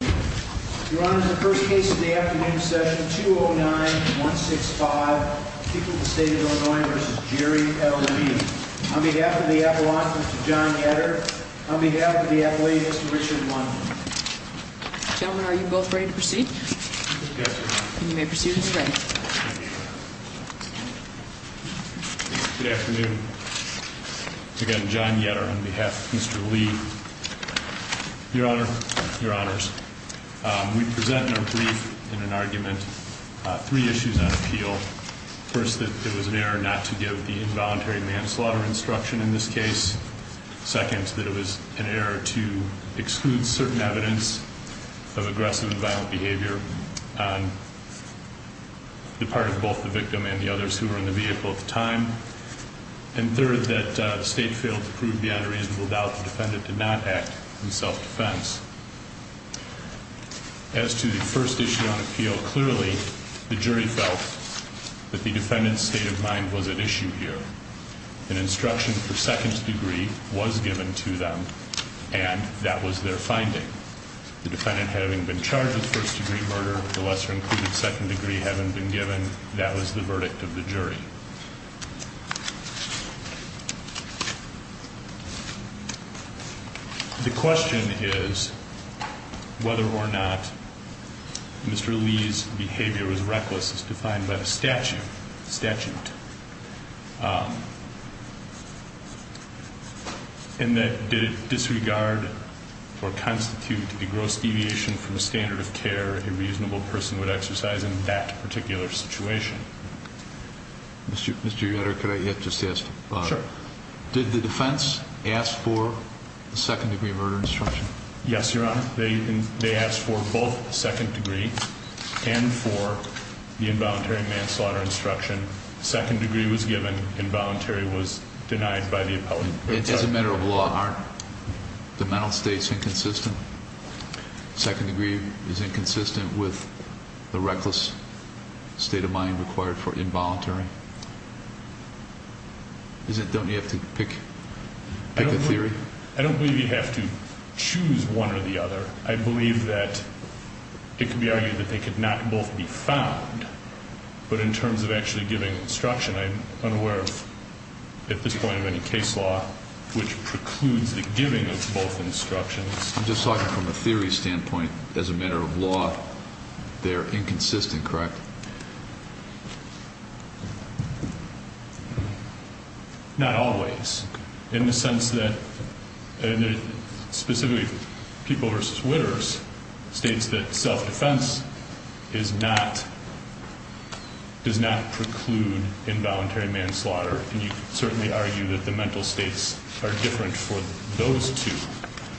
Your Honor, the first case of the afternoon is Session 209-165, People of the State of Illinois v. Jerry L. Lee. On behalf of the Appellant, Mr. John Yetter. On behalf of the Athlete, Mr. Richard Monk. Gentlemen, are you both ready to proceed? Yes, Your Honor. You may proceed as ready. Good afternoon. Again, John Yetter on behalf of Mr. Lee. Your Honor, Your Honors. We present in our brief in an argument three issues on appeal. First, that it was an error not to give the involuntary manslaughter instruction in this case. Second, that it was an error to exclude certain evidence of aggressive and violent behavior on the part of both the victim and the others who were in the vehicle at the time. And third, that the State failed to prove the unreasonable doubt the defendant did not act in self-defense. As to the first issue on appeal, clearly the jury felt that the defendant's state of mind was at issue here. An instruction for second degree was given to them, and that was their finding. The defendant having been charged with first degree murder, the lesser included second degree having been given, that was the verdict of the jury. The question is whether or not Mr. Lee's behavior was reckless as defined by the statute. And that, did it disregard or constitute the gross deviation from the standard of care a reasonable person would exercise in that particular situation. Mr. Yetter, could I just ask? Sure. Did the defense ask for the second degree murder instruction? Yes, Your Honor. They asked for both second degree and for the involuntary manslaughter instruction. Second degree was given. Involuntary was denied by the appellate court. As a matter of law, aren't the mental states inconsistent? Second degree is inconsistent with the reckless state of mind required for involuntary. Don't you have to pick a theory? I don't believe you have to choose one or the other. I believe that it could be argued that they could not both be found. But in terms of actually giving instruction, I'm unaware at this point of any case law which precludes the giving of both instructions. I'm just talking from a theory standpoint. As a matter of law, they're inconsistent, correct? Not always. In the sense that, specifically, People v. Witters states that self-defense does not preclude involuntary manslaughter. And you could certainly argue that the mental states are different for those two.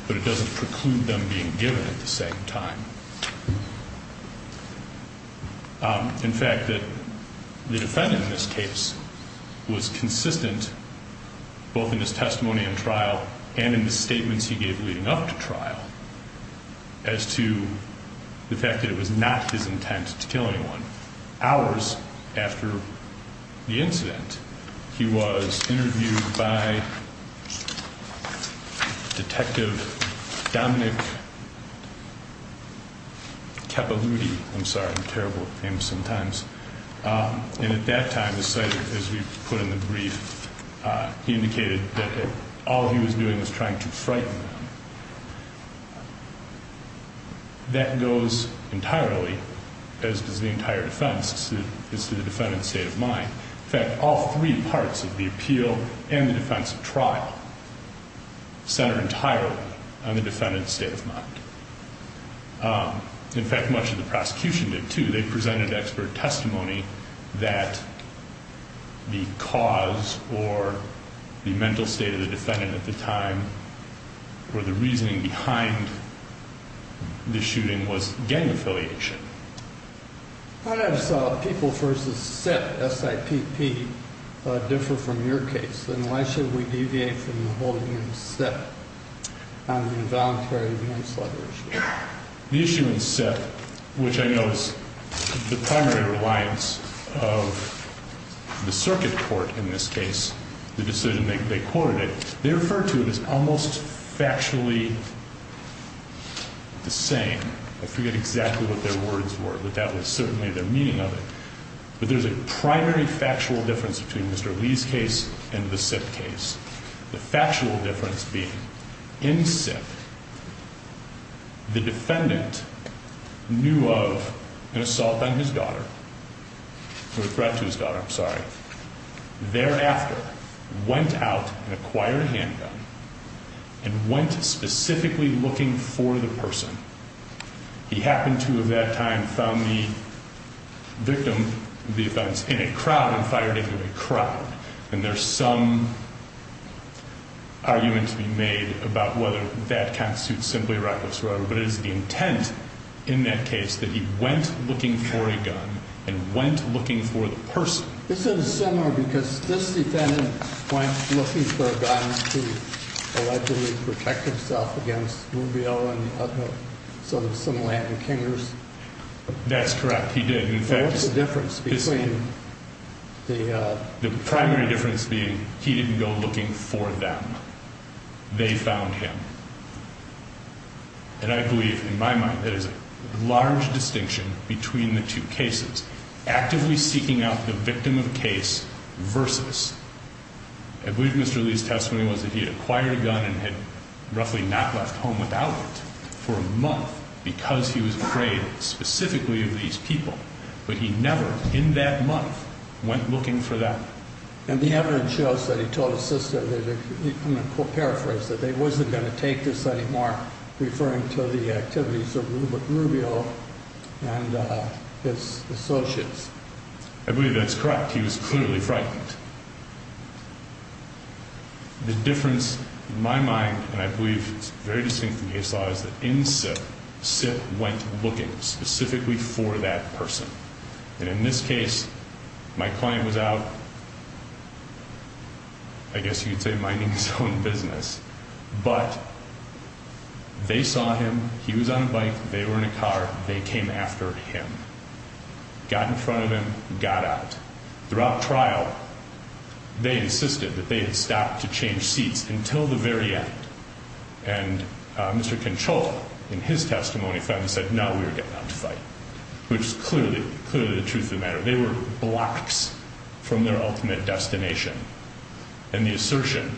But it doesn't preclude them being given at the same time. In fact, the defendant in this case was consistent both in his testimony and trial and in the statements he gave leading up to trial as to the fact that it was not his intent to kill anyone. I'm sorry. I'm terrible at names sometimes. And at that time, as we've put in the brief, he indicated that all he was doing was trying to frighten them. That goes entirely, as does the entire defense. It's the defendant's state of mind. In fact, all three parts of the appeal and the defense of trial center entirely on the defendant's state of mind. In fact, much of the prosecution did, too. They presented expert testimony that the cause or the mental state of the defendant at the time or the reasoning behind the shooting was gang affiliation. How does people versus SIPP differ from your case? And why should we deviate from the whole SIPP on the involuntary manslaughter issue? The issue in SIPP, which I know is the primary reliance of the circuit court in this case, the decision they quoted it, they referred to it as almost factually the same. I forget exactly what their words were, but that was certainly their meaning of it. But there's a primary factual difference between Mr. Lee's case and the SIPP case. The factual difference being in SIPP, the defendant knew of an assault on his daughter, or a threat to his daughter, I'm sorry. Thereafter, went out and acquired a handgun and went specifically looking for the person he happened to at that time found the victim, the defense, in a crowd and fired into a crowd. And there's some argument to be made about whether that constitutes simply reckless robbery. But it is the intent in that case that he went looking for a gun and went looking for the person. This is similar because this defendant went looking for a gun to allegedly protect himself against Rubio and some Latin kingers. That's correct. He did. In fact, the difference between the primary difference being he didn't go looking for them. They found him. And I believe in my mind that is a large distinction between the two cases actively seeking out the victim of case versus. I believe Mr. Lee's testimony was that he had acquired a gun and had roughly not left home without it for a month because he was afraid specifically of these people. But he never in that month went looking for that. And the evidence shows that he told his sister that he paraphrased that they wasn't going to take this anymore, referring to the activities of Rubio and his associates. I believe that's correct. He was clearly frightened. The difference in my mind, and I believe it's very distinct from case law, is that in SIP, SIP went looking specifically for that person. And in this case, my client was out. I guess you'd say minding his own business, but they saw him. He was on a bike. They were in a car. They came after him. Got in front of him, got out. Throughout trial, they insisted that they had stopped to change seats until the very end. And Mr. Conchola, in his testimony, finally said, no, we were getting out to fight, which is clearly the truth of the matter. They were blocks from their ultimate destination. And the assertion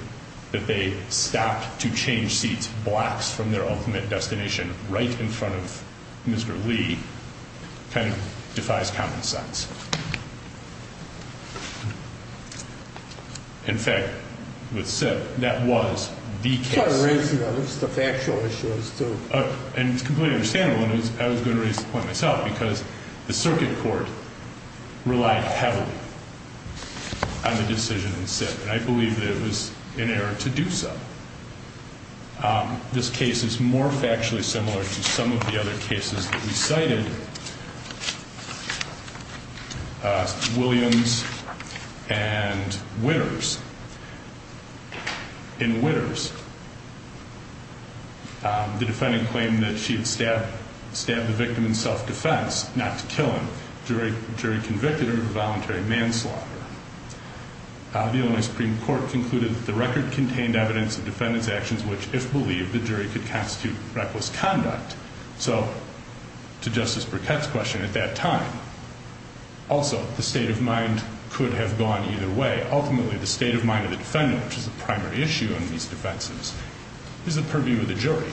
that they stopped to change seats, blocks from their ultimate destination, right in front of Mr. Lee, kind of defies common sense. In fact, with SIP, that was the case. It's not a race, though. It's the factual issues, too. And it's completely understandable, and I was going to raise the point myself, because the circuit court relied heavily on the decision in SIP. And I believe that it was inerrant to do so. This case is more factually similar to some of the other cases that we cited. In the case of Williams and Witters, in Witters, the defendant claimed that she had stabbed the victim in self-defense, not to kill him. The jury convicted her of voluntary manslaughter. The Illinois Supreme Court concluded that the record contained evidence of defendant's actions, which, if believed, the jury could constitute reckless conduct. So, to Justice Burkett's question, at that time, also, the state of mind could have gone either way. Ultimately, the state of mind of the defendant, which is the primary issue in these defenses, is the purview of the jury.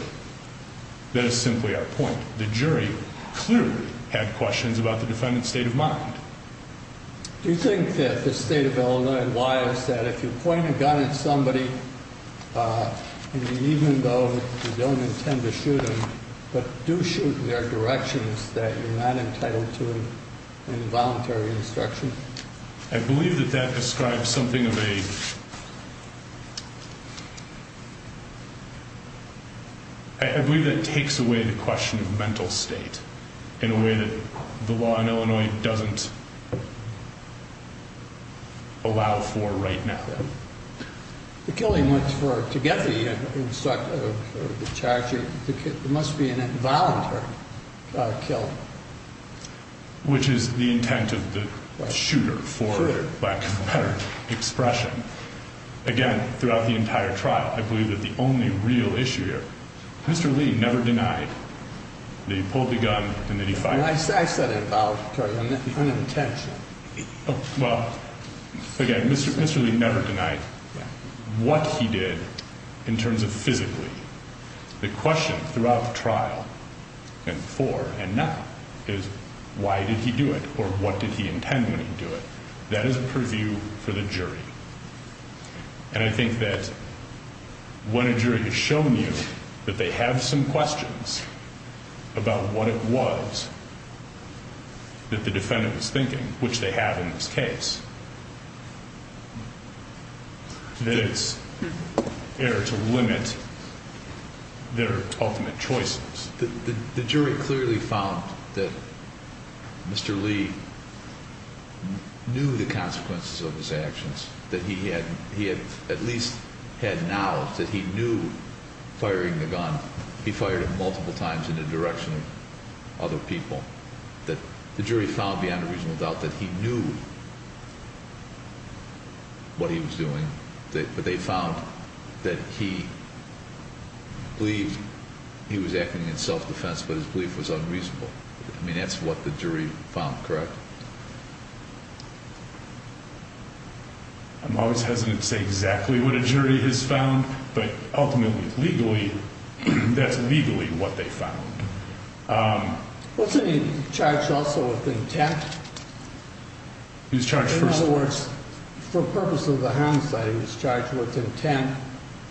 That is simply our point. The jury clearly had questions about the defendant's state of mind. Do you think that the state of Illinois and why is that? If you point a gun at somebody in the evening, though you don't intend to shoot them, but do shoot in their direction, is that you're not entitled to an involuntary instruction? I believe that that describes something of a... I believe that takes away the question of mental state in a way that the law in Illinois doesn't allow for right now. The killing was for, to get the instruction, the charge, it must be an involuntary killing. Which is the intent of the shooter, for lack of a better expression. Again, throughout the entire trial, I believe that the only real issue here, Mr. Lee never denied that he pulled the gun and that he fired it. I said it about unintentional. Well, again, Mr. Lee never denied what he did in terms of physically. The question throughout the trial, and for, and not, is why did he do it or what did he intend when he did it? That is a purview for the jury. And I think that when a jury has shown you that they have some questions about what it was that the defendant was thinking, which they have in this case, that it's there to limit their ultimate choices. The jury clearly found that Mr. Lee knew the consequences of his actions, that he had at least had knowledge that he knew firing the gun. He fired it multiple times in the direction of other people. The jury found beyond a reasonable doubt that he knew what he was doing, but they found that he believed he was acting in self-defense, but his belief was unreasonable. I mean, that's what the jury found, correct? I'm always hesitant to say exactly what a jury has found, but ultimately, legally, that's legally what they found. Wasn't he charged also with intent? He was charged first. In other words, for purposes of the homicide, he was charged with intent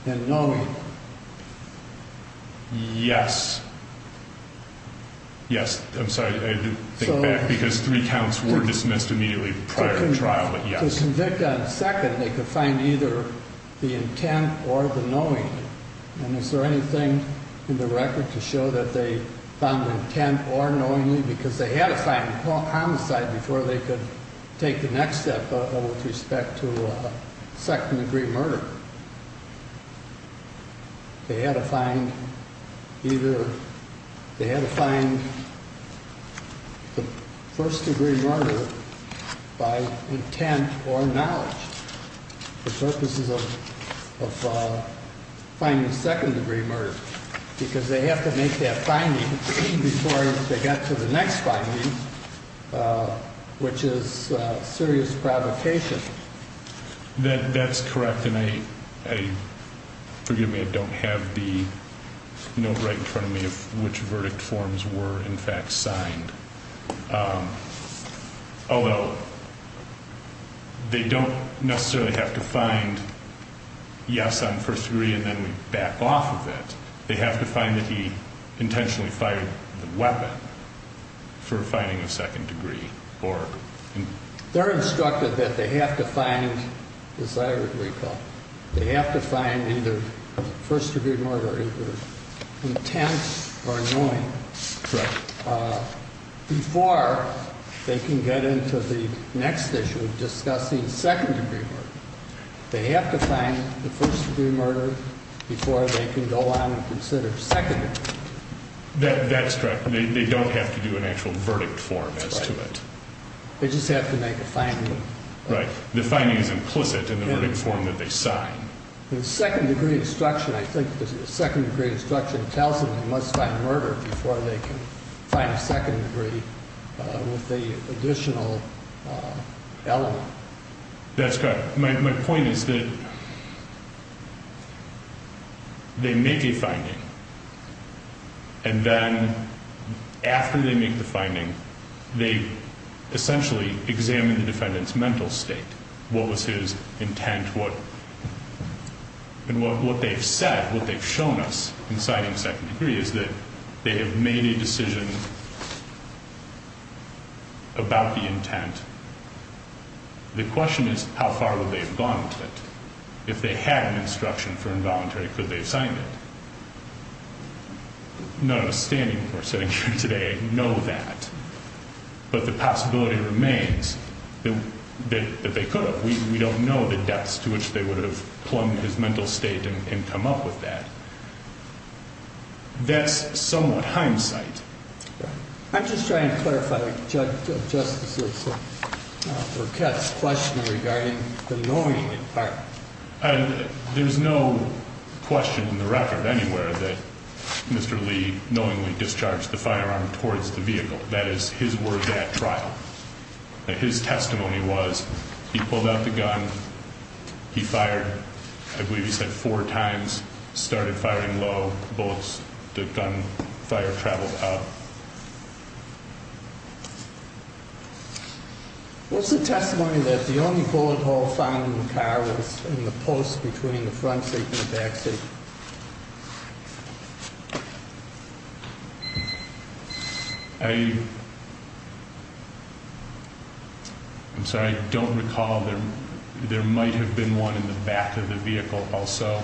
and knowing. Yes. Yes, I'm sorry, I had to think back, because three counts were dismissed immediately prior to trial, but yes. When the defendant was convicted on second, they could find either the intent or the knowing, and is there anything in the record to show that they found intent or knowingly? Because they had to find homicide before they could take the next step with respect to second-degree murder. They had to find either, they had to find the first-degree murder by intent or knowledge for purposes of finding second-degree murder, because they have to make that finding before they got to the next finding, which is serious provocation. That's correct, and I, forgive me, I don't have the note right in front of me of which verdict forms were, in fact, signed. Although, they don't necessarily have to find yes on first-degree, and then we back off of it. They have to find that he intentionally fired the weapon for finding a second-degree. They're instructed that they have to find, as I recall, they have to find either first-degree murder, either intent or knowing, before they can get into the next issue of discussing second-degree murder. They have to find the first-degree murder before they can go on and consider second-degree. That's correct. They don't have to do an actual verdict form as to it. They just have to make a finding. Right. The finding is implicit in the verdict form that they sign. The second-degree instruction, I think the second-degree instruction tells them they must find murder before they can find second-degree with the additional element. That's correct. My point is that they make a finding, and then after they make the finding, they essentially examine the defendant's mental state. What was his intent? What they've said, what they've shown us in signing second-degree is that they have made a decision about the intent. The question is, how far would they have gone to it? If they had an instruction for involuntary, could they have signed it? None of us standing here today know that, but the possibility remains that they could have. We don't know the depths to which they would have plumbed his mental state and come up with that. That's somewhat hindsight. I'm just trying to clarify, Justice Lipson, for Kev's question regarding the knowingly part. There's no question in the record anywhere that Mr. Lee knowingly discharged the firearm towards the vehicle. That is his word at trial. His testimony was he pulled out the gun. He fired, I believe he said four times, started firing low bullets. The gun fire traveled up. What's the testimony that the only bullet hole found in the car was in the post between the front seat and the back seat? I'm sorry, I don't recall. There might have been one in the back of the vehicle also.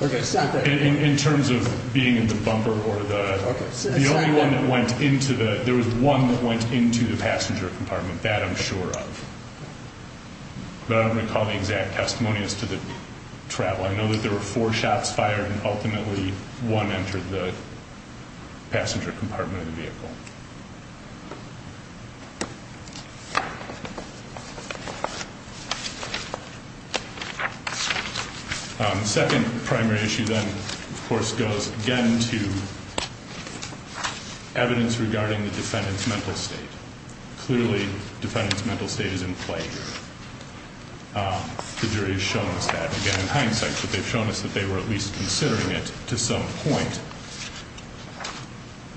In terms of being in the bumper or the— The only one that went into the—there was one that went into the passenger compartment, that I'm sure of. But I don't recall the exact testimony as to the travel. I know that there were four shots fired and ultimately one entered the passenger compartment of the vehicle. The second primary issue then, of course, goes again to evidence regarding the defendant's mental state. Clearly, defendant's mental state is in play here. The jury has shown us that, again, in hindsight. They've shown us that they were at least considering it to some point.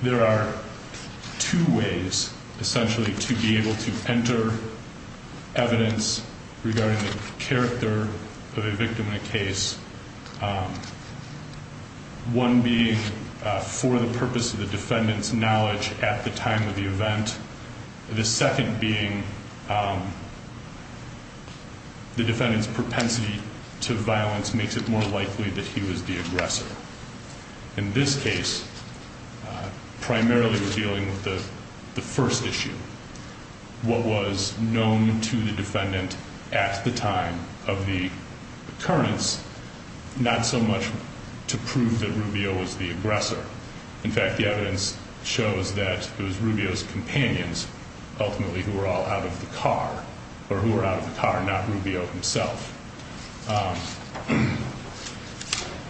There are two ways, essentially, to be able to enter evidence regarding the character of a victim in a case. One being for the purpose of the defendant's knowledge at the time of the event. The second being the defendant's propensity to violence makes it more likely that he was the aggressor. In this case, primarily we're dealing with the first issue. What was known to the defendant at the time of the occurrence, not so much to prove that Rubio was the aggressor. In fact, the evidence shows that it was Rubio's companions, ultimately, who were all out of the car. Or who were out of the car, not Rubio himself.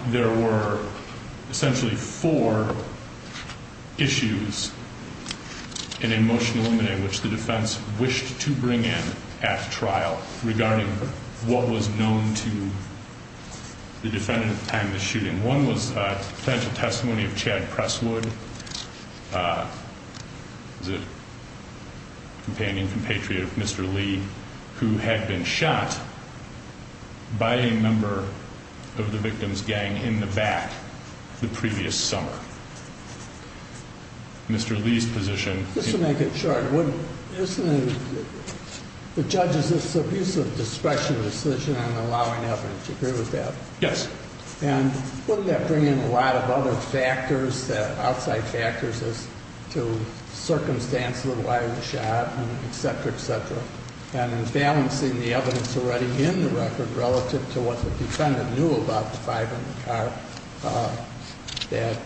There were essentially four issues in a motion in which the defense wished to bring in at trial. Regarding what was known to the defendant at the time of the shooting. And one was a potential testimony of Chad Presswood, the companion, compatriot of Mr. Lee, who had been shot by a member of the victim's gang in the back the previous summer. Mr. Lee's position. Just to make it short, isn't it, the judge's use of discretionary decision and allowing evidence. Do you agree with that? Yes. And wouldn't that bring in a lot of other factors, outside factors as to circumstances of why he was shot, etc., etc.? And in balancing the evidence already in the record relative to what the defendant knew about the five in the car. That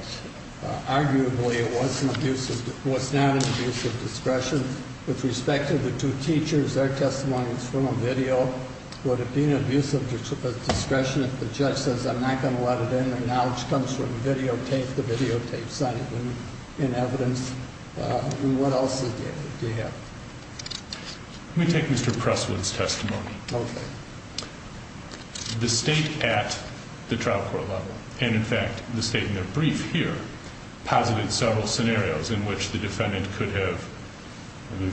arguably it was not an abuse of discretion. With respect to the two teachers, their testimony is from a video. Would it be an abuse of discretion if the judge says, I'm not going to let it in, and now it comes from videotape to videotape. Sign it in evidence. What else do you have? Let me take Mr. Presswood's testimony. Okay. The state at the trial court level, and in fact, the state in their brief here, posited several scenarios in which the defendant could have,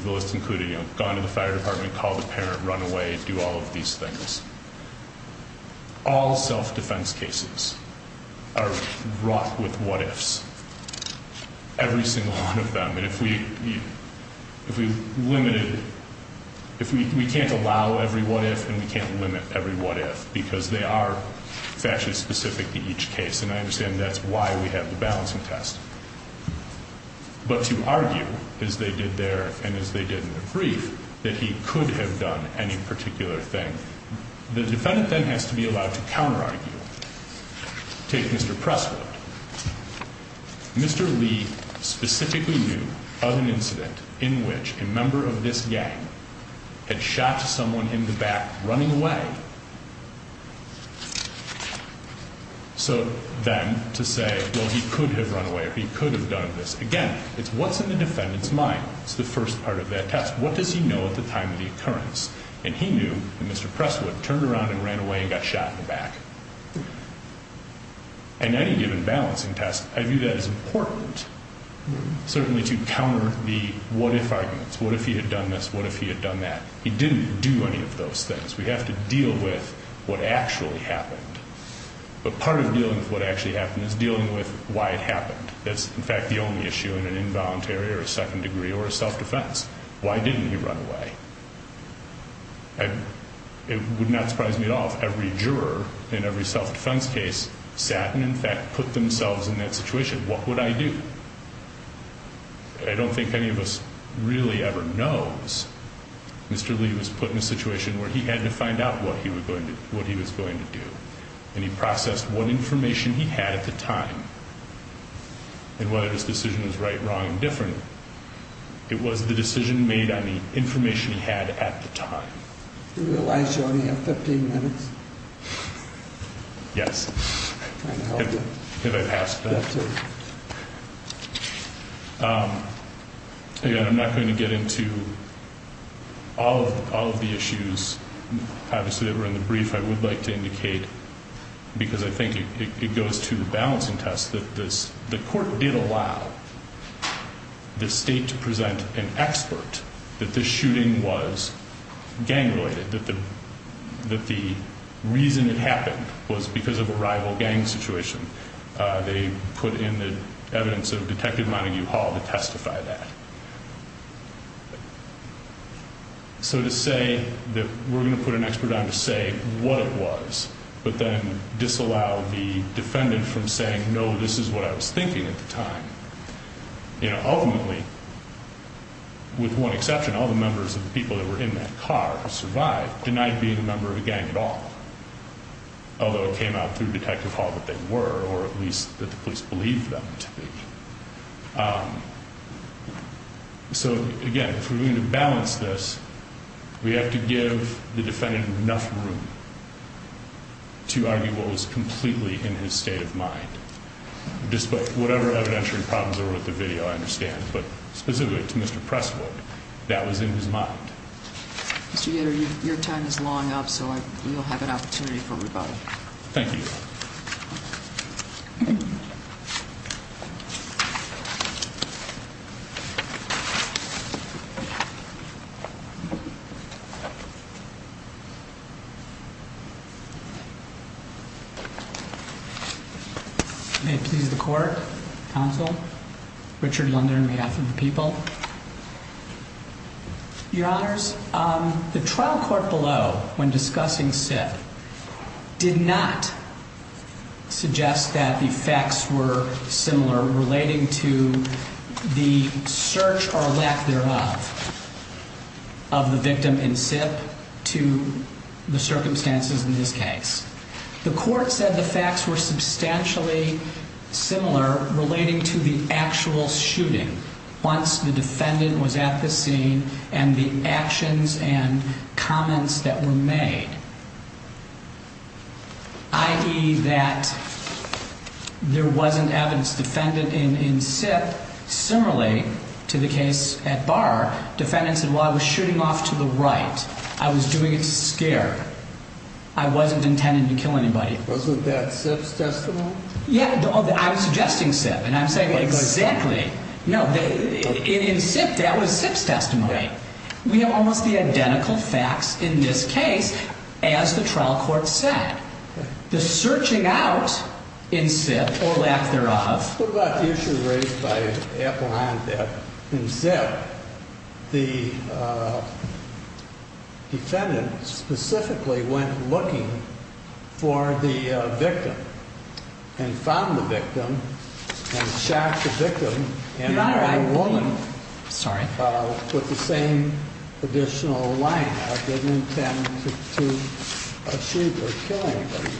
the list included, gone to the fire department, called the parent, run away, do all of these things. All self-defense cases are wrought with what-ifs, every single one of them. And if we limited, if we can't allow every what-if and we can't limit every what-if, because they are factually specific to each case, and I understand that's why we have the balancing test. But to argue, as they did there and as they did in the brief, that he could have done any particular thing, the defendant then has to be allowed to counter-argue. Take Mr. Presswood. Mr. Lee specifically knew of an incident in which a member of this gang had shot someone in the back running away. So then to say, well, he could have run away or he could have done this, again, it's what's in the defendant's mind. It's the first part of that test. What does he know at the time of the occurrence? And he knew that Mr. Presswood turned around and ran away and got shot in the back. In any given balancing test, I view that as important, certainly to counter the what-if arguments. What if he had done this? What if he had done that? He didn't do any of those things. We have to deal with what actually happened. But part of dealing with what actually happened is dealing with why it happened. That's, in fact, the only issue in an involuntary or a second-degree or a self-defense. Why didn't he run away? It would not surprise me at all if every juror in every self-defense case sat and, in fact, put themselves in that situation. What would I do? I don't think any of us really ever knows. Mr. Lee was put in a situation where he had to find out what he was going to do. And he processed what information he had at the time and whether his decision was right, wrong, or different. It was the decision made on the information he had at the time. Do you realize you only have 15 minutes? Yes. Have I passed that? Again, I'm not going to get into all of the issues. Obviously, they were in the brief. I would like to indicate, because I think it goes to the balancing test, that the court did allow the state to present an expert that this shooting was gang-related, that the reason it happened was because of a rival gang situation. They put in the evidence of Detective Montague Hall to testify that. So to say that we're going to put an expert on to say what it was but then disallow the defendant from saying, no, this is what I was thinking at the time. Ultimately, with one exception, all the members of the people that were in that car survived, denied being a member of a gang at all. Although it came out through Detective Hall that they were, or at least that the police believed them to be. So again, if we're going to balance this, we have to give the defendant enough room to argue what was completely in his state of mind. Despite whatever evidentiary problems are with the video, I understand. But specifically to Mr. Presswood, that was in his mind. Mr. Yetter, your time is long up, so you'll have an opportunity for rebuttal. Thank you. May it please the court, counsel, Richard Lunder on behalf of the people. Your honors, the trial court below, when discussing SIPP, did not suggest that the facts were similar relating to the search or lack thereof of the victim in SIPP to the circumstances in this case. The court said the facts were substantially similar relating to the actual shooting once the defendant was at the scene and the actions and comments that were made. I.e. that there wasn't evidence defendant in SIPP. Similarly to the case at Barr, defendants and while I was shooting off to the right, I was doing it to scare. I wasn't intended to kill anybody. Wasn't that SIPP's testimony? Yeah, I was suggesting SIPP and I'm saying exactly. No, in SIPP, that was SIPP's testimony. We have almost the identical facts in this case as the trial court said. The searching out in SIPP or lack thereof. What about the issue raised by Appelheim that in SIPP, the defendant specifically went looking for the victim and found the victim and shot the victim. With the same additional line, I didn't intend to shoot or kill anybody.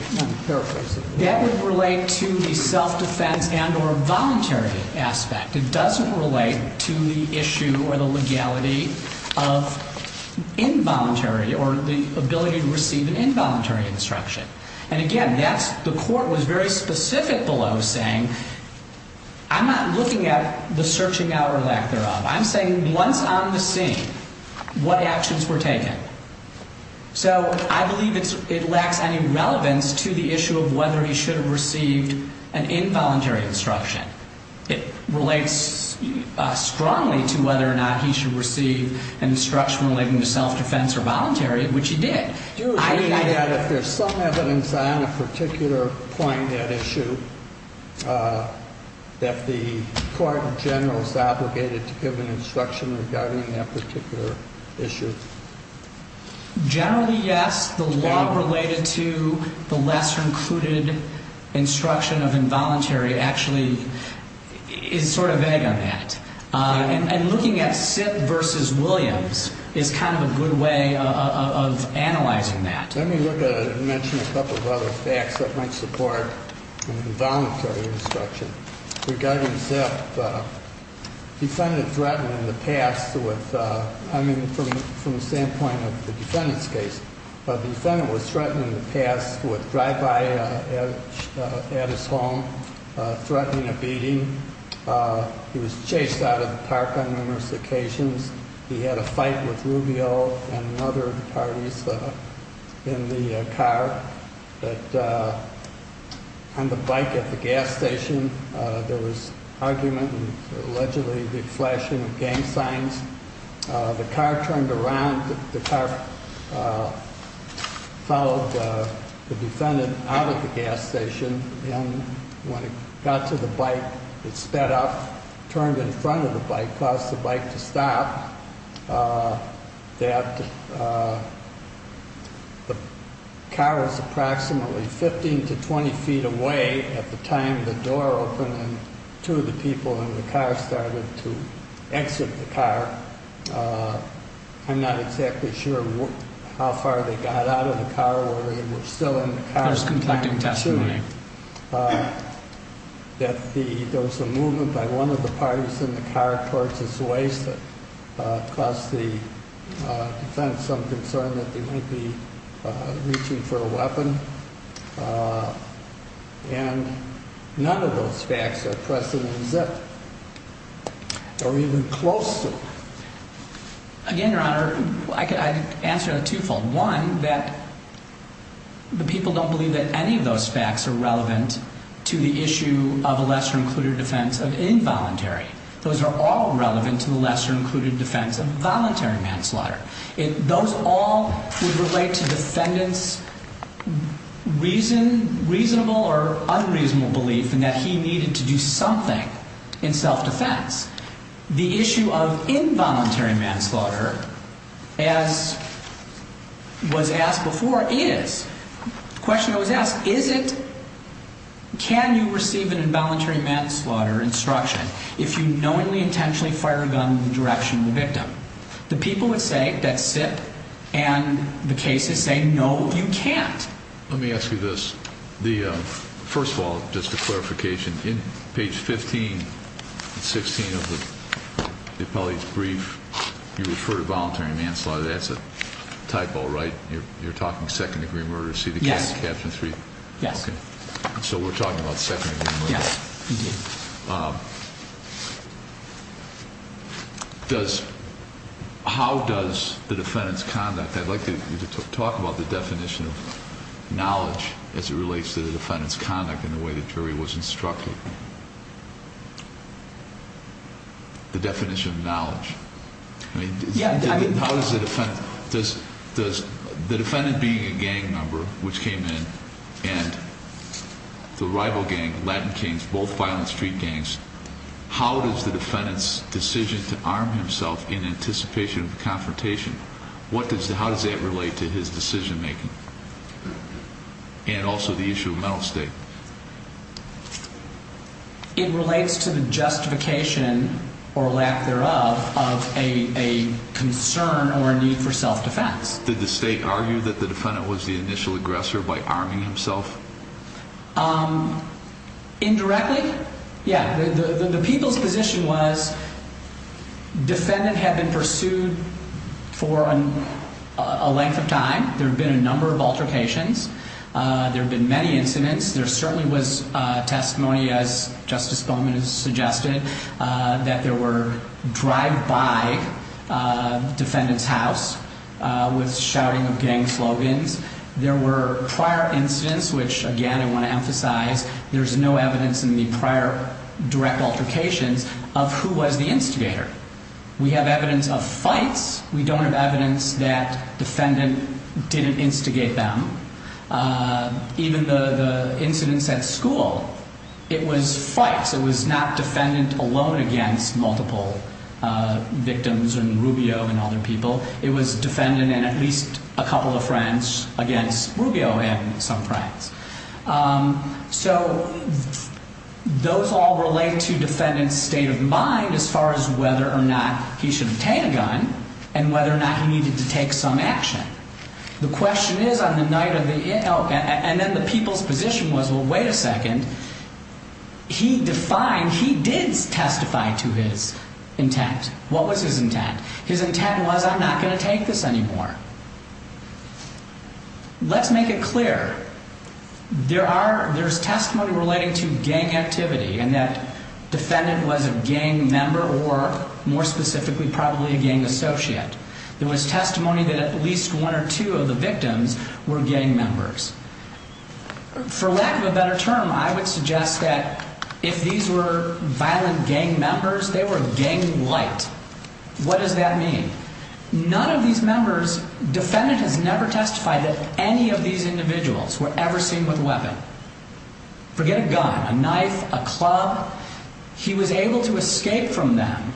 That would relate to the self-defense and or voluntary aspect. It doesn't relate to the issue or the legality of involuntary or the ability to receive an involuntary instruction. Again, the court was very specific below saying, I'm not looking at the searching out or lack thereof. I'm saying once on the scene, what actions were taken? I believe it lacks any relevance to the issue of whether he should have received an involuntary instruction. It relates strongly to whether or not he should receive an instruction relating to self-defense or voluntary, which he did. Do you agree that if there's some evidence on a particular point, that issue, that the court in general is obligated to give an instruction regarding that particular issue? Generally, yes. The law related to the lesser included instruction of involuntary actually is sort of vague on that. And looking at Sip versus Williams is kind of a good way of analyzing that. Let me mention a couple of other facts that might support involuntary instruction. Regarding Sip, defendant threatened in the past with, I mean, from the standpoint of the defendant's case, the defendant was threatened in the past with drive-by at his home, threatening a beating. He was chased out of the park on numerous occasions. He had a fight with Rubio and other parties in the car. On the bike at the gas station, there was argument and allegedly the flashing of gang signs. The car turned around. The car followed the defendant out of the gas station. And when it got to the bike, it sped up, turned in front of the bike, caused the bike to stop. The car was approximately 15 to 20 feet away at the time the door opened and two of the people in the car started to exit the car. I'm not exactly sure how far they got out of the car. There's conflicting testimony. There was a movement by one of the parties in the car towards his waist that caused the defense some concern that they might be reaching for a weapon. And none of those facts are present in Sip or even close to. Again, Your Honor, I'd answer on a twofold. One, that the people don't believe that any of those facts are relevant to the issue of a lesser-included defense of involuntary. Those are all relevant to the lesser-included defense of voluntary manslaughter. Those all would relate to defendant's reasonable or unreasonable belief in that he needed to do something in self-defense. The issue of involuntary manslaughter, as was asked before, is, the question that was asked, is it, can you receive an involuntary manslaughter instruction if you knowingly, intentionally fire a gun in the direction of the victim? The people would say, that's Sip, and the cases say, no, you can't. Let me ask you this. First of all, just a clarification. In page 15 and 16 of the appellate's brief, you refer to voluntary manslaughter. That's a typo, right? You're talking second-degree murder. Yes. So we're talking about second-degree murder. Yes. How does the defendant's conduct, I'd like you to talk about the definition of knowledge as it relates to the defendant's conduct and the way the jury was instructed. The definition of knowledge. The defendant being a gang member, which came in, and the rival gang, Latin Kings, both violent street gangs, how does the defendant's decision to arm himself in anticipation of the confrontation, how does that relate to his decision-making? And also the issue of mental state. It relates to the justification, or lack thereof, of a concern or a need for self-defense. Did the state argue that the defendant was the initial aggressor by arming himself? Indirectly, yeah. The people's position was defendant had been pursued for a length of time. There had been a number of altercations. There had been many incidents. There certainly was testimony, as Justice Bowman has suggested, that there were drive-by defendant's house with shouting of gang slogans. There were prior incidents, which, again, I want to emphasize, there's no evidence in the prior direct altercations of who was the instigator. We have evidence of fights. We don't have evidence that defendant didn't instigate them. Even the incidents at school, it was fights. It was not defendant alone against multiple victims and Rubio and other people. It was defendant and at least a couple of friends against Rubio and some friends. So those all relate to defendant's state of mind as far as whether or not he should obtain a gun and whether or not he needed to take some action. The question is on the night of the, and then the people's position was, well, wait a second. He defined, he did testify to his intent. What was his intent? His intent was, I'm not going to take this anymore. Let's make it clear. There are, there's testimony relating to gang activity and that defendant was a gang member or, more specifically, probably a gang associate. There was testimony that at least one or two of the victims were gang members. For lack of a better term, I would suggest that if these were violent gang members, they were gang-lite. What does that mean? None of these members, defendant has never testified that any of these individuals were ever seen with a weapon. Forget a gun, a knife, a club. He was able to escape from them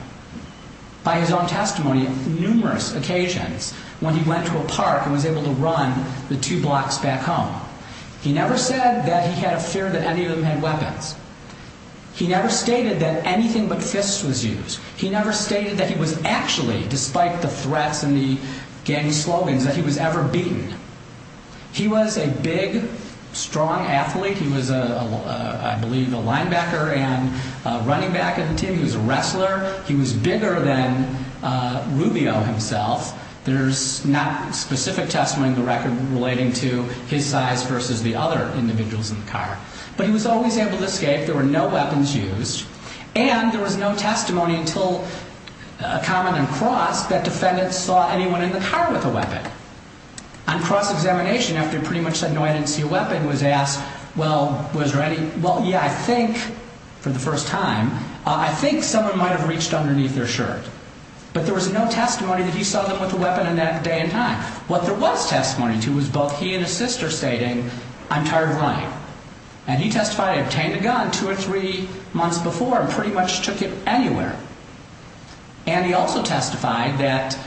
by his own testimony on numerous occasions when he went to a park and was able to run the two blocks back home. He never said that he had a fear that any of them had weapons. He never stated that anything but fists was used. He never stated that he was actually, despite the threats and the gang slogans, that he was ever beaten. He was a big, strong athlete. He was, I believe, a linebacker and running back of the team. He was a wrestler. He was bigger than Rubio himself. There's not specific testimony in the record relating to his size versus the other individuals in the car. But he was always able to escape. There were no weapons used. And there was no testimony until a car ran across that defendants saw anyone in the car with a weapon. On cross-examination, after he pretty much said, no, I didn't see a weapon, was asked, well, was there any? Well, yeah, I think, for the first time, I think someone might have reached underneath their shirt. But there was no testimony that he saw them with a weapon in that day and time. What there was testimony to was both he and his sister stating, I'm tired of lying. And he testified he obtained a gun two or three months before and pretty much took it anywhere. And he also testified that,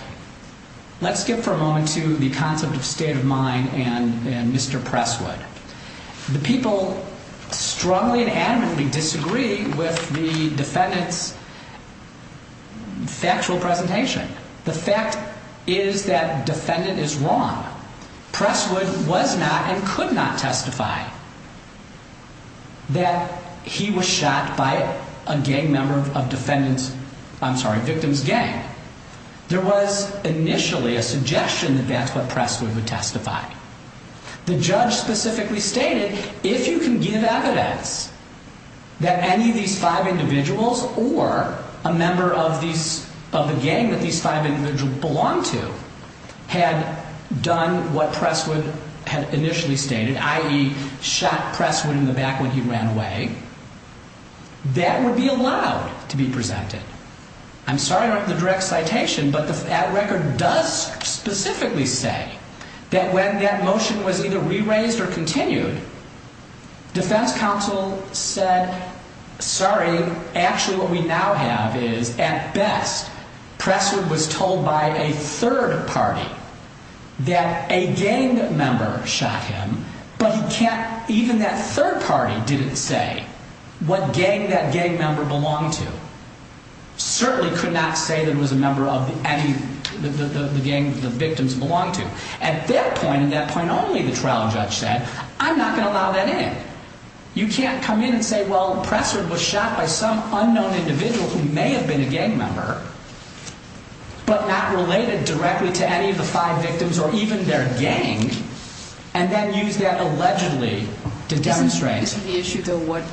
let's skip for a moment to the concept of state of mind and Mr. Presswood. The people strongly and adamantly disagree with the defendant's factual presentation. The fact is that defendant is wrong. Presswood was not and could not testify that he was shot by a gang member of defendant's, I'm sorry, victim's gang. There was initially a suggestion that that's what Presswood would testify. The judge specifically stated, if you can give evidence that any of these five individuals or a member of these, of the gang that these five individuals belonged to had done what Presswood had initially stated, i.e., shot Presswood in the back when he ran away, that would be allowed to be presented. I'm sorry I don't have the direct citation, but that record does specifically say that when that motion was either re-raised or continued, defense counsel said, sorry, actually what we now have is, at best, Presswood was told by a third party that a gang member shot him, but he can't, even that third party didn't say what gang that gang member belonged to. Certainly could not say that it was a member of any of the gang the victims belonged to. At that point, at that point only, the trial judge said, I'm not going to allow that in. You can't come in and say, well, Presswood was shot by some unknown individual who may have been a gang member, but not related directly to any of the five victims or even their gang, and then use that allegedly to demonstrate. Isn't the issue, though, what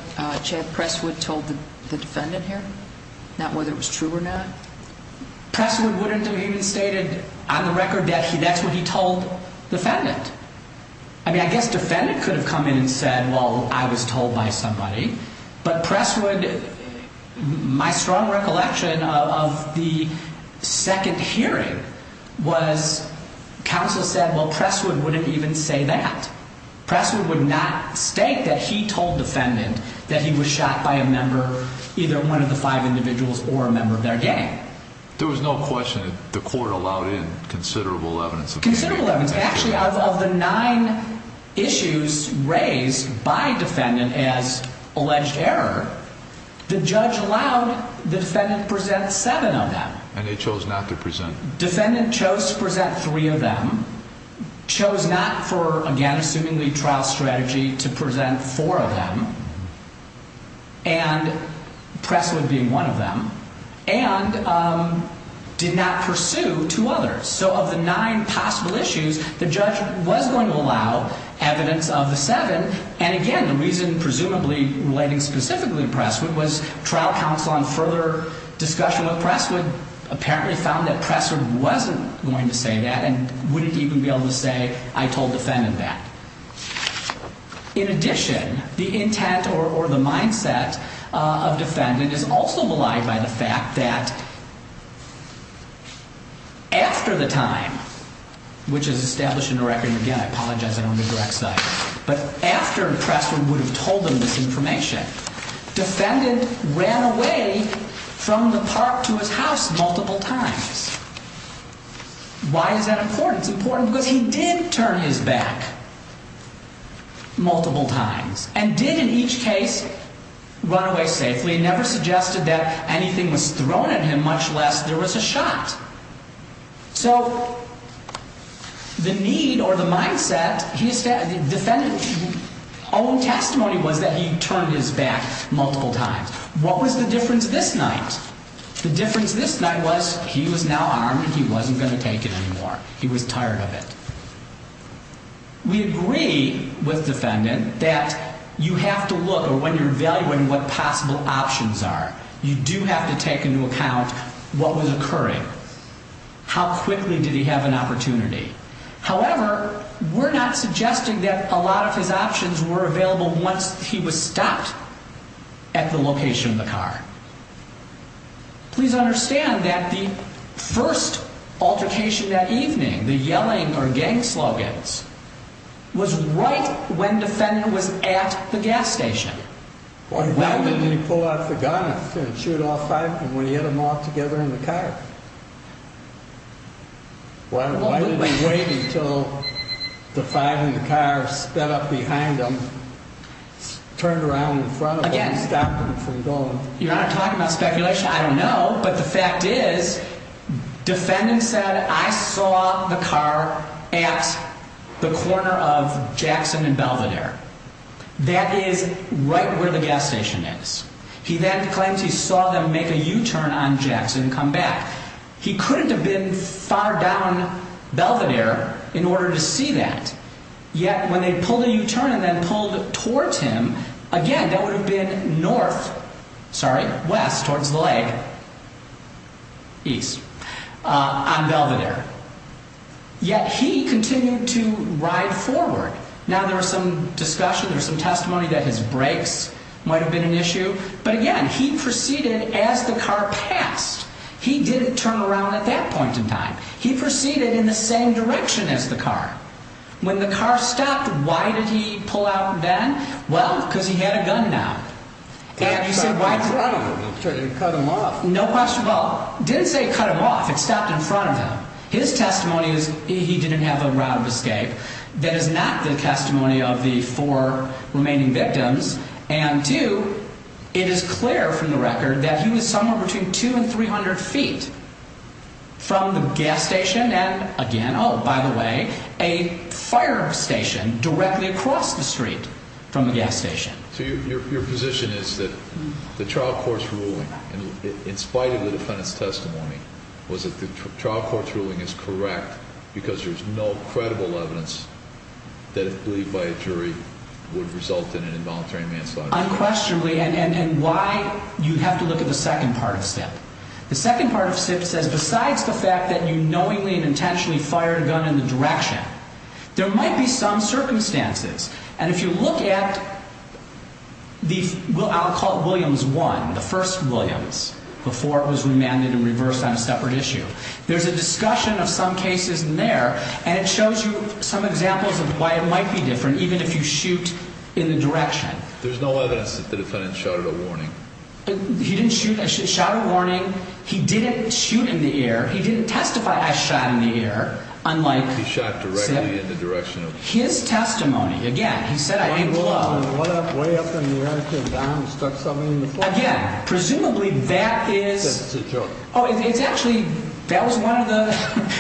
Chad Presswood told the defendant here? Not whether it was true or not? Presswood wouldn't have even stated on the record that that's what he told the defendant. I mean, I guess defendant could have come in and said, well, I was told by somebody, but Presswood, my strong recollection of the second hearing was counsel said, well, Presswood wouldn't even say that. Presswood would not state that he told defendant that he was shot by a member, either one of the five individuals or a member of their gang. There was no question that the court allowed in considerable evidence. Considerable evidence. Actually, of the nine issues raised by defendant as alleged error, the judge allowed the defendant present seven of them. And they chose not to present. Defendant chose to present three of them, chose not for, again, assuming the trial strategy to present four of them, and Presswood being one of them, and did not pursue two others. So of the nine possible issues, the judge was going to allow evidence of the seven. And again, the reason presumably relating specifically to Presswood was trial counsel on further discussion with Presswood apparently found that Presswood wasn't going to say that and wouldn't even be able to say I told defendant that. In addition, the intent or the mindset of defendant is also maligned by the fact that after the time, which is established in the record, and again, I apologize, I don't mean to direct cite, but after Presswood would have told him this information, defendant ran away from the park to his house multiple times. Why is that important? It's important because he did turn his back multiple times and did in each case run away safely and never suggested that anything was thrown at him, much less there was a shot. So the need or the mindset, the defendant's own testimony was that he turned his back multiple times. What was the difference this night? The difference this night was he was now armed and he wasn't going to take it anymore. He was tired of it. We agree with defendant that you have to look or when you're evaluating what possible options are, you do have to take into account what was occurring. How quickly did he have an opportunity? However, we're not suggesting that a lot of his options were available once he was stopped at the location of the car. Please understand that the first altercation that evening, the yelling or gang slogans, was right when defendant was at the gas station. Why didn't he pull out the gun and shoot all five of them when he had them all together in the car? Why did he wait until the five in the car sped up behind him, turned around in front of him and stopped him from going? You're not talking about speculation. I don't know. But the fact is defendant said, I saw the car at the corner of Jackson and Belvedere. That is right where the gas station is. He then claims he saw them make a U-turn on Jackson and come back. He couldn't have been far down Belvedere in order to see that. Yet when they pulled a U-turn and then pulled towards him, again, that would have been north, sorry, west, towards the lake, east, on Belvedere. Yet he continued to ride forward. Now there was some discussion, there was some testimony that his brakes might have been an issue. But again, he proceeded as the car passed. He didn't turn around at that point in time. He proceeded in the same direction as the car. When the car stopped, why did he pull out then? Well, because he had a gun now. And he said, why? He cut him off. No question. Well, didn't say cut him off. It stopped in front of him. His testimony is he didn't have a route of escape. That is not the testimony of the four remaining victims. And two, it is clear from the record that he was somewhere between 200 and 300 feet from the gas station. And again, oh, by the way, a fire station directly across the street from the gas station. So your position is that the trial court's ruling, in spite of the defendant's testimony, was that the trial court's ruling is correct because there's no credible evidence that a plea by a jury would result in an involuntary manslaughter. Unquestionably, and why, you have to look at the second part of Stipp. The second part of Stipp says besides the fact that you knowingly and intentionally fired a gun in the direction, there might be some circumstances. And if you look at the, I'll call it Williams 1, the first Williams, before it was remanded and reversed on a separate issue, there's a discussion of some cases in there, and it shows you some examples of why it might be different even if you shoot in the direction. There's no evidence that the defendant shot at a warning. He didn't shoot. I shot a warning. He didn't shoot in the ear. He didn't testify I shot in the ear, unlike Stipp. He shot directly in the direction. His testimony, again, he said I aimed low. Way up in the air, came down, stuck something in the floor. Again, presumably that is. That's a joke. Oh, it's actually, that was one of the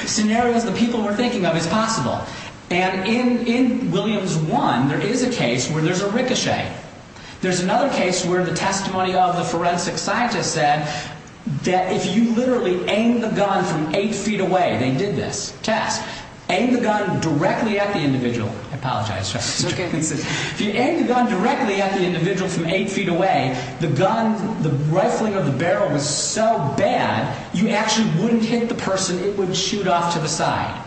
scenarios the people were thinking of as possible. And in Williams 1, there is a case where there's a ricochet. There's another case where the testimony of the forensic scientist said that if you literally aimed the gun from eight feet away, they did this test, aimed the gun directly at the individual. I apologize. It's okay. If you aimed the gun directly at the individual from eight feet away, the gun, the rifling of the barrel was so bad, you actually wouldn't hit the person. It would shoot off to the side.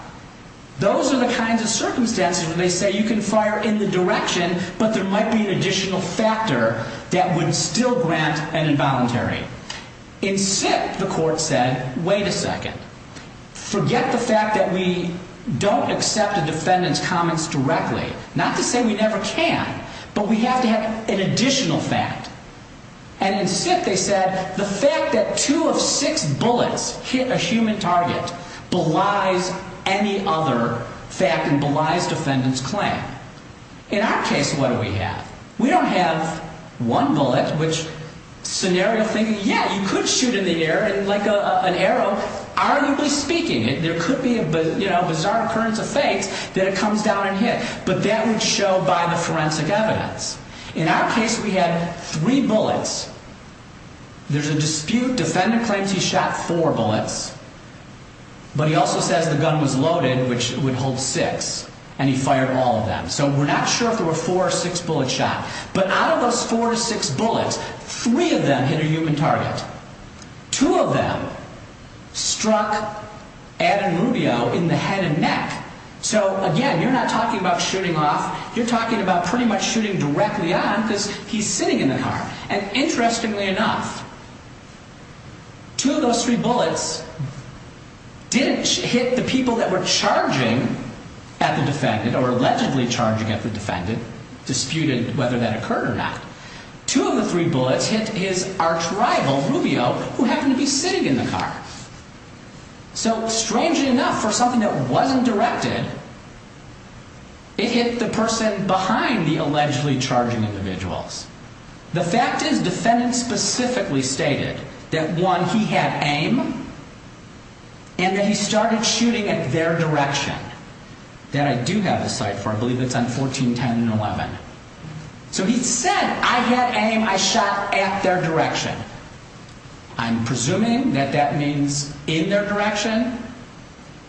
Those are the kinds of circumstances where they say you can fire in the direction, but there might be an additional factor that would still grant an involuntary. In Stipp, the court said, wait a second. Forget the fact that we don't accept a defendant's comments directly. Not to say we never can, but we have to have an additional fact. And in Stipp, they said the fact that two of six bullets hit a human target belies any other fact and belies defendant's claim. In our case, what do we have? We don't have one bullet, which scenario thing, yeah, you could shoot in the air like an arrow. Arguably speaking, there could be a bizarre occurrence of fakes that it comes down and hit. But that would show by the forensic evidence. In our case, we had three bullets. There's a dispute. Defendant claims he shot four bullets. But he also says the gun was loaded, which would hold six. And he fired all of them. So we're not sure if there were four or six bullets shot. But out of those four to six bullets, three of them hit a human target. Two of them struck Adam Rubio in the head and neck. So again, you're not talking about shooting off. You're talking about pretty much shooting directly on because he's sitting in the car. And interestingly enough, two of those three bullets didn't hit the people that were charging at the defendant or allegedly charging at the defendant, disputed whether that occurred or not. Two of the three bullets hit his arch rival, Rubio, who happened to be sitting in the car. So strangely enough, for something that wasn't directed, it hit the person behind the allegedly charging individuals. The fact is, defendant specifically stated that, one, he had aim and that he started shooting at their direction. That I do have a cite for. I believe it's on 1410 and 11. So he said, I had aim. I shot at their direction. I'm presuming that that means in their direction.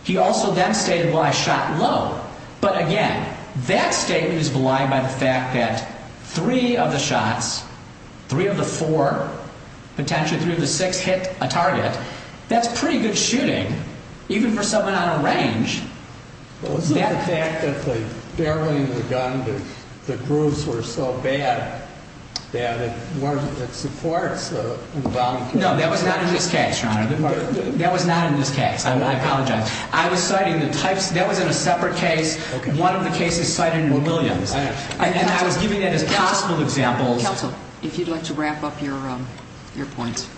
He also then stated, well, I shot low. But again, that statement is belied by the fact that three of the shots, three of the four, potentially three of the six, hit a target. That's pretty good shooting, even for someone on a range. Well, isn't the fact that the barrel in the gun, the grooves were so bad that it supports the wound? No, that was not in this case, Your Honor. That was not in this case. I apologize. I was citing the types. That was in a separate case. One of the cases cited were Williams. And I was giving that as possible examples. Counsel, if you'd like to wrap up your points.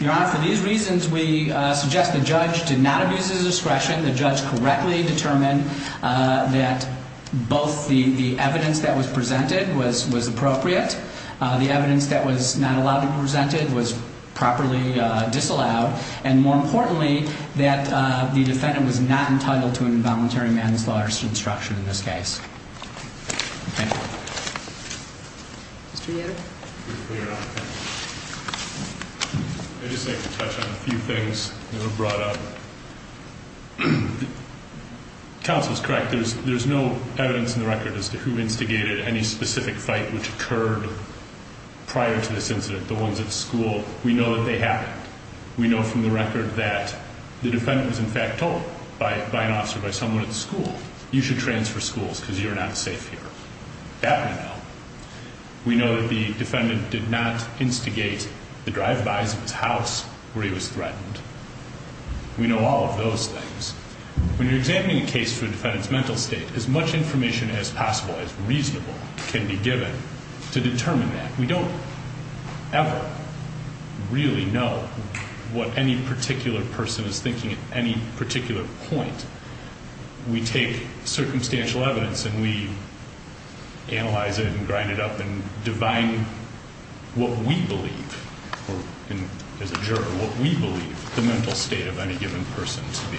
Your Honor, for these reasons, we suggest the judge did not abuse his discretion. The judge correctly determined that both the evidence that was presented was appropriate. The evidence that was not allowed to be presented was properly disallowed. And more importantly, that the defendant was not entitled to an involuntary manslaughter instruction in this case. Thank you. Mr. Yatter? I'd just like to touch on a few things that were brought up. Counsel is correct. There's no evidence in the record as to who instigated any specific fight which occurred prior to this incident, the ones at the school. We know that they happened. We know from the record that the defendant was, in fact, told by an officer, by someone at the school, you should transfer schools because you're not safe here. That we know. We know that the defendant did not instigate the drive-bys of his house where he was threatened. We know all of those things. When you're examining a case for a defendant's mental state, as much information as possible, as reasonable, can be given to determine that. We don't ever really know what any particular person is thinking at any particular point. We take circumstantial evidence and we analyze it and grind it up and divine what we believe, as a juror, what we believe the mental state of any given person to be.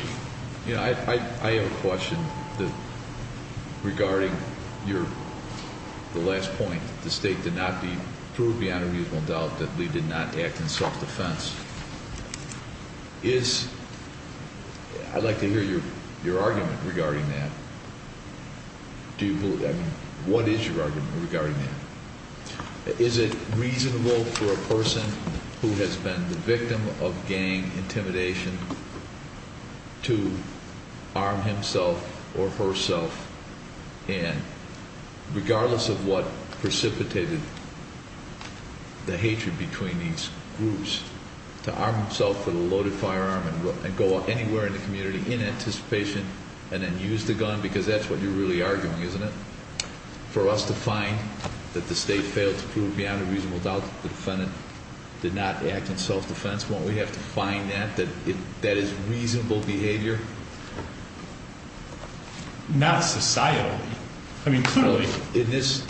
I have a question regarding the last point. The state did not prove beyond a reasonable doubt that Lee did not act in self-defense. I'd like to hear your argument regarding that. What is your argument regarding that? Is it reasonable for a person who has been the victim of gang intimidation to arm himself or herself and, regardless of what precipitated the hatred between these groups, to arm himself with a loaded firearm and go anywhere in the community in anticipation and then use the gun? Because that's what you're really arguing, isn't it? For us to find that the state failed to prove beyond a reasonable doubt that the defendant did not act in self-defense, won't we have to find that? That that is reasonable behavior? Not societally. I mean, clearly. In this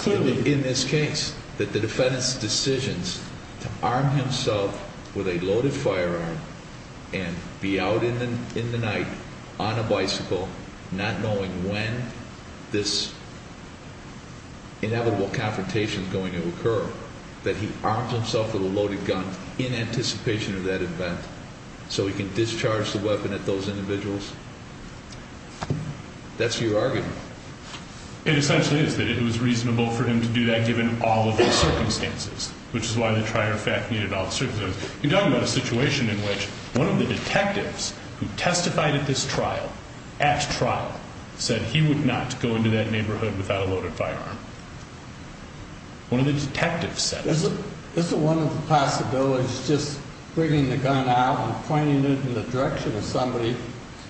case, that the defendant's decisions to arm himself with a loaded firearm and be out in the night on a bicycle, not knowing when this inevitable confrontation is going to occur, that he arms himself with a loaded gun in anticipation of that event so he can discharge the weapon at those individuals? That's your argument. It essentially is that it was reasonable for him to do that given all of the circumstances, which is why the trier fact needed all the circumstances. You're talking about a situation in which one of the detectives who testified at this trial, at trial, said he would not go into that neighborhood without a loaded firearm. One of the detectives said it. Isn't one of the possibilities just bringing the gun out and pointing it in the direction of somebody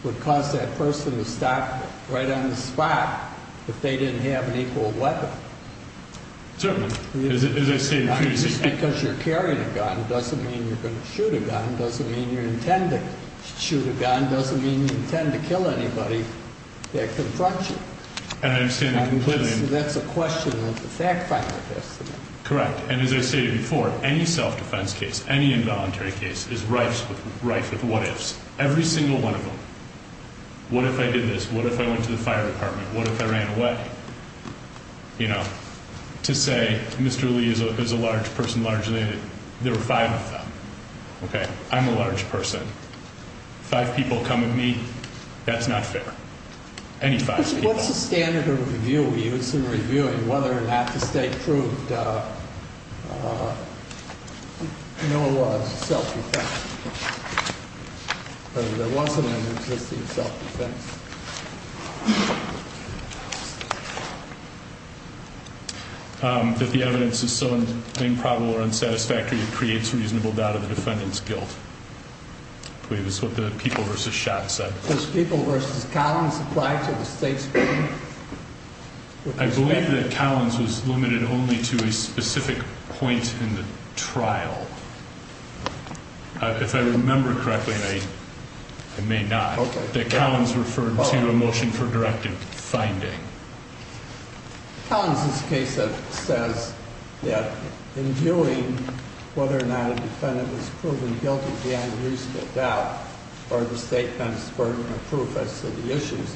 would cause that person to stop right on the spot if they didn't have an equal weapon? Certainly. Just because you're carrying a gun doesn't mean you're going to shoot a gun. It doesn't mean you intend to shoot a gun. It doesn't mean you intend to kill anybody that confronts you. And I understand that completely. That's a question of the fact finder. Correct. And as I stated before, any self-defense case, any involuntary case, is rife with what ifs. Every single one of them. What if I did this? What if I went to the fire department? What if I ran away? You know, to say Mr. Lee is a large person, largely, there were five of them. Okay? I'm a large person. Five people come at me. That's not fair. Any five people. What's the standard of review we use in reviewing whether or not the state proved no one was self-defense? Whether there was a limit to the state's self-defense. That the evidence is so improbable or unsatisfactory it creates reasonable doubt of the defendant's guilt. I believe that's what the people versus shots said. Those people versus Collins applied to the state's people? I believe that Collins was limited only to a specific point in the trial. If I remember correctly, I may not. Okay. That Collins referred to a motion for directive finding. Collins' case says that in viewing whether or not a defendant was proven guilty beyond reasonable doubt, or the state then spurred on a proof as to the issues,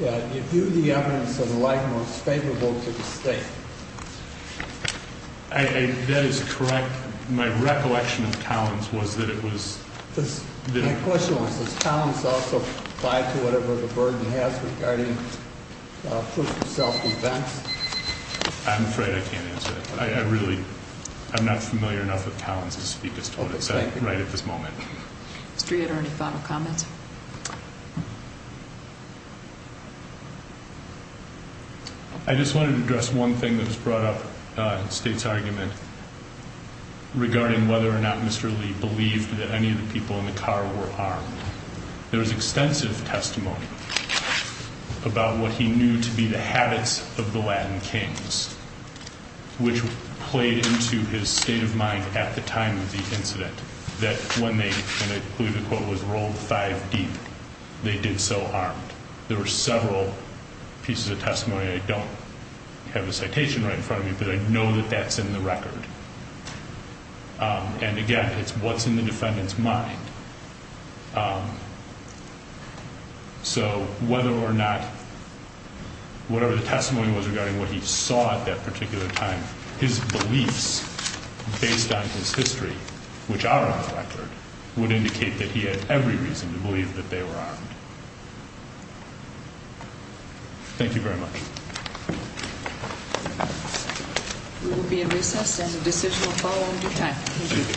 that you view the evidence of the like most favorable to the state. That is correct. My recollection of Collins was that it was... My question was, does Collins also apply to whatever the burden has regarding proof of self-defense? I'm afraid I can't answer that. I really, I'm not familiar enough with Collins to speak as to what it said right at this moment. Mr. Yoder, any final comments? I just wanted to address one thing that was brought up in the state's argument regarding whether or not Mr. Lee believed that any of the people in the car were armed. There was extensive testimony about what he knew to be the habits of the Latin kings, which played into his state of mind at the time of the incident, that when they believe the quote was rolled five deep, they did so armed. There were several pieces of testimony. I don't have a citation right in front of me, but I know that that's in the record. And again, it's what's in the defendant's mind. So whether or not, whatever the testimony was regarding what he saw at that particular time, his beliefs based on his history, which are on record, would indicate that he had every reason to believe that they were armed. Thank you very much. We will be at recess, and the decision will follow in due time. Thank you.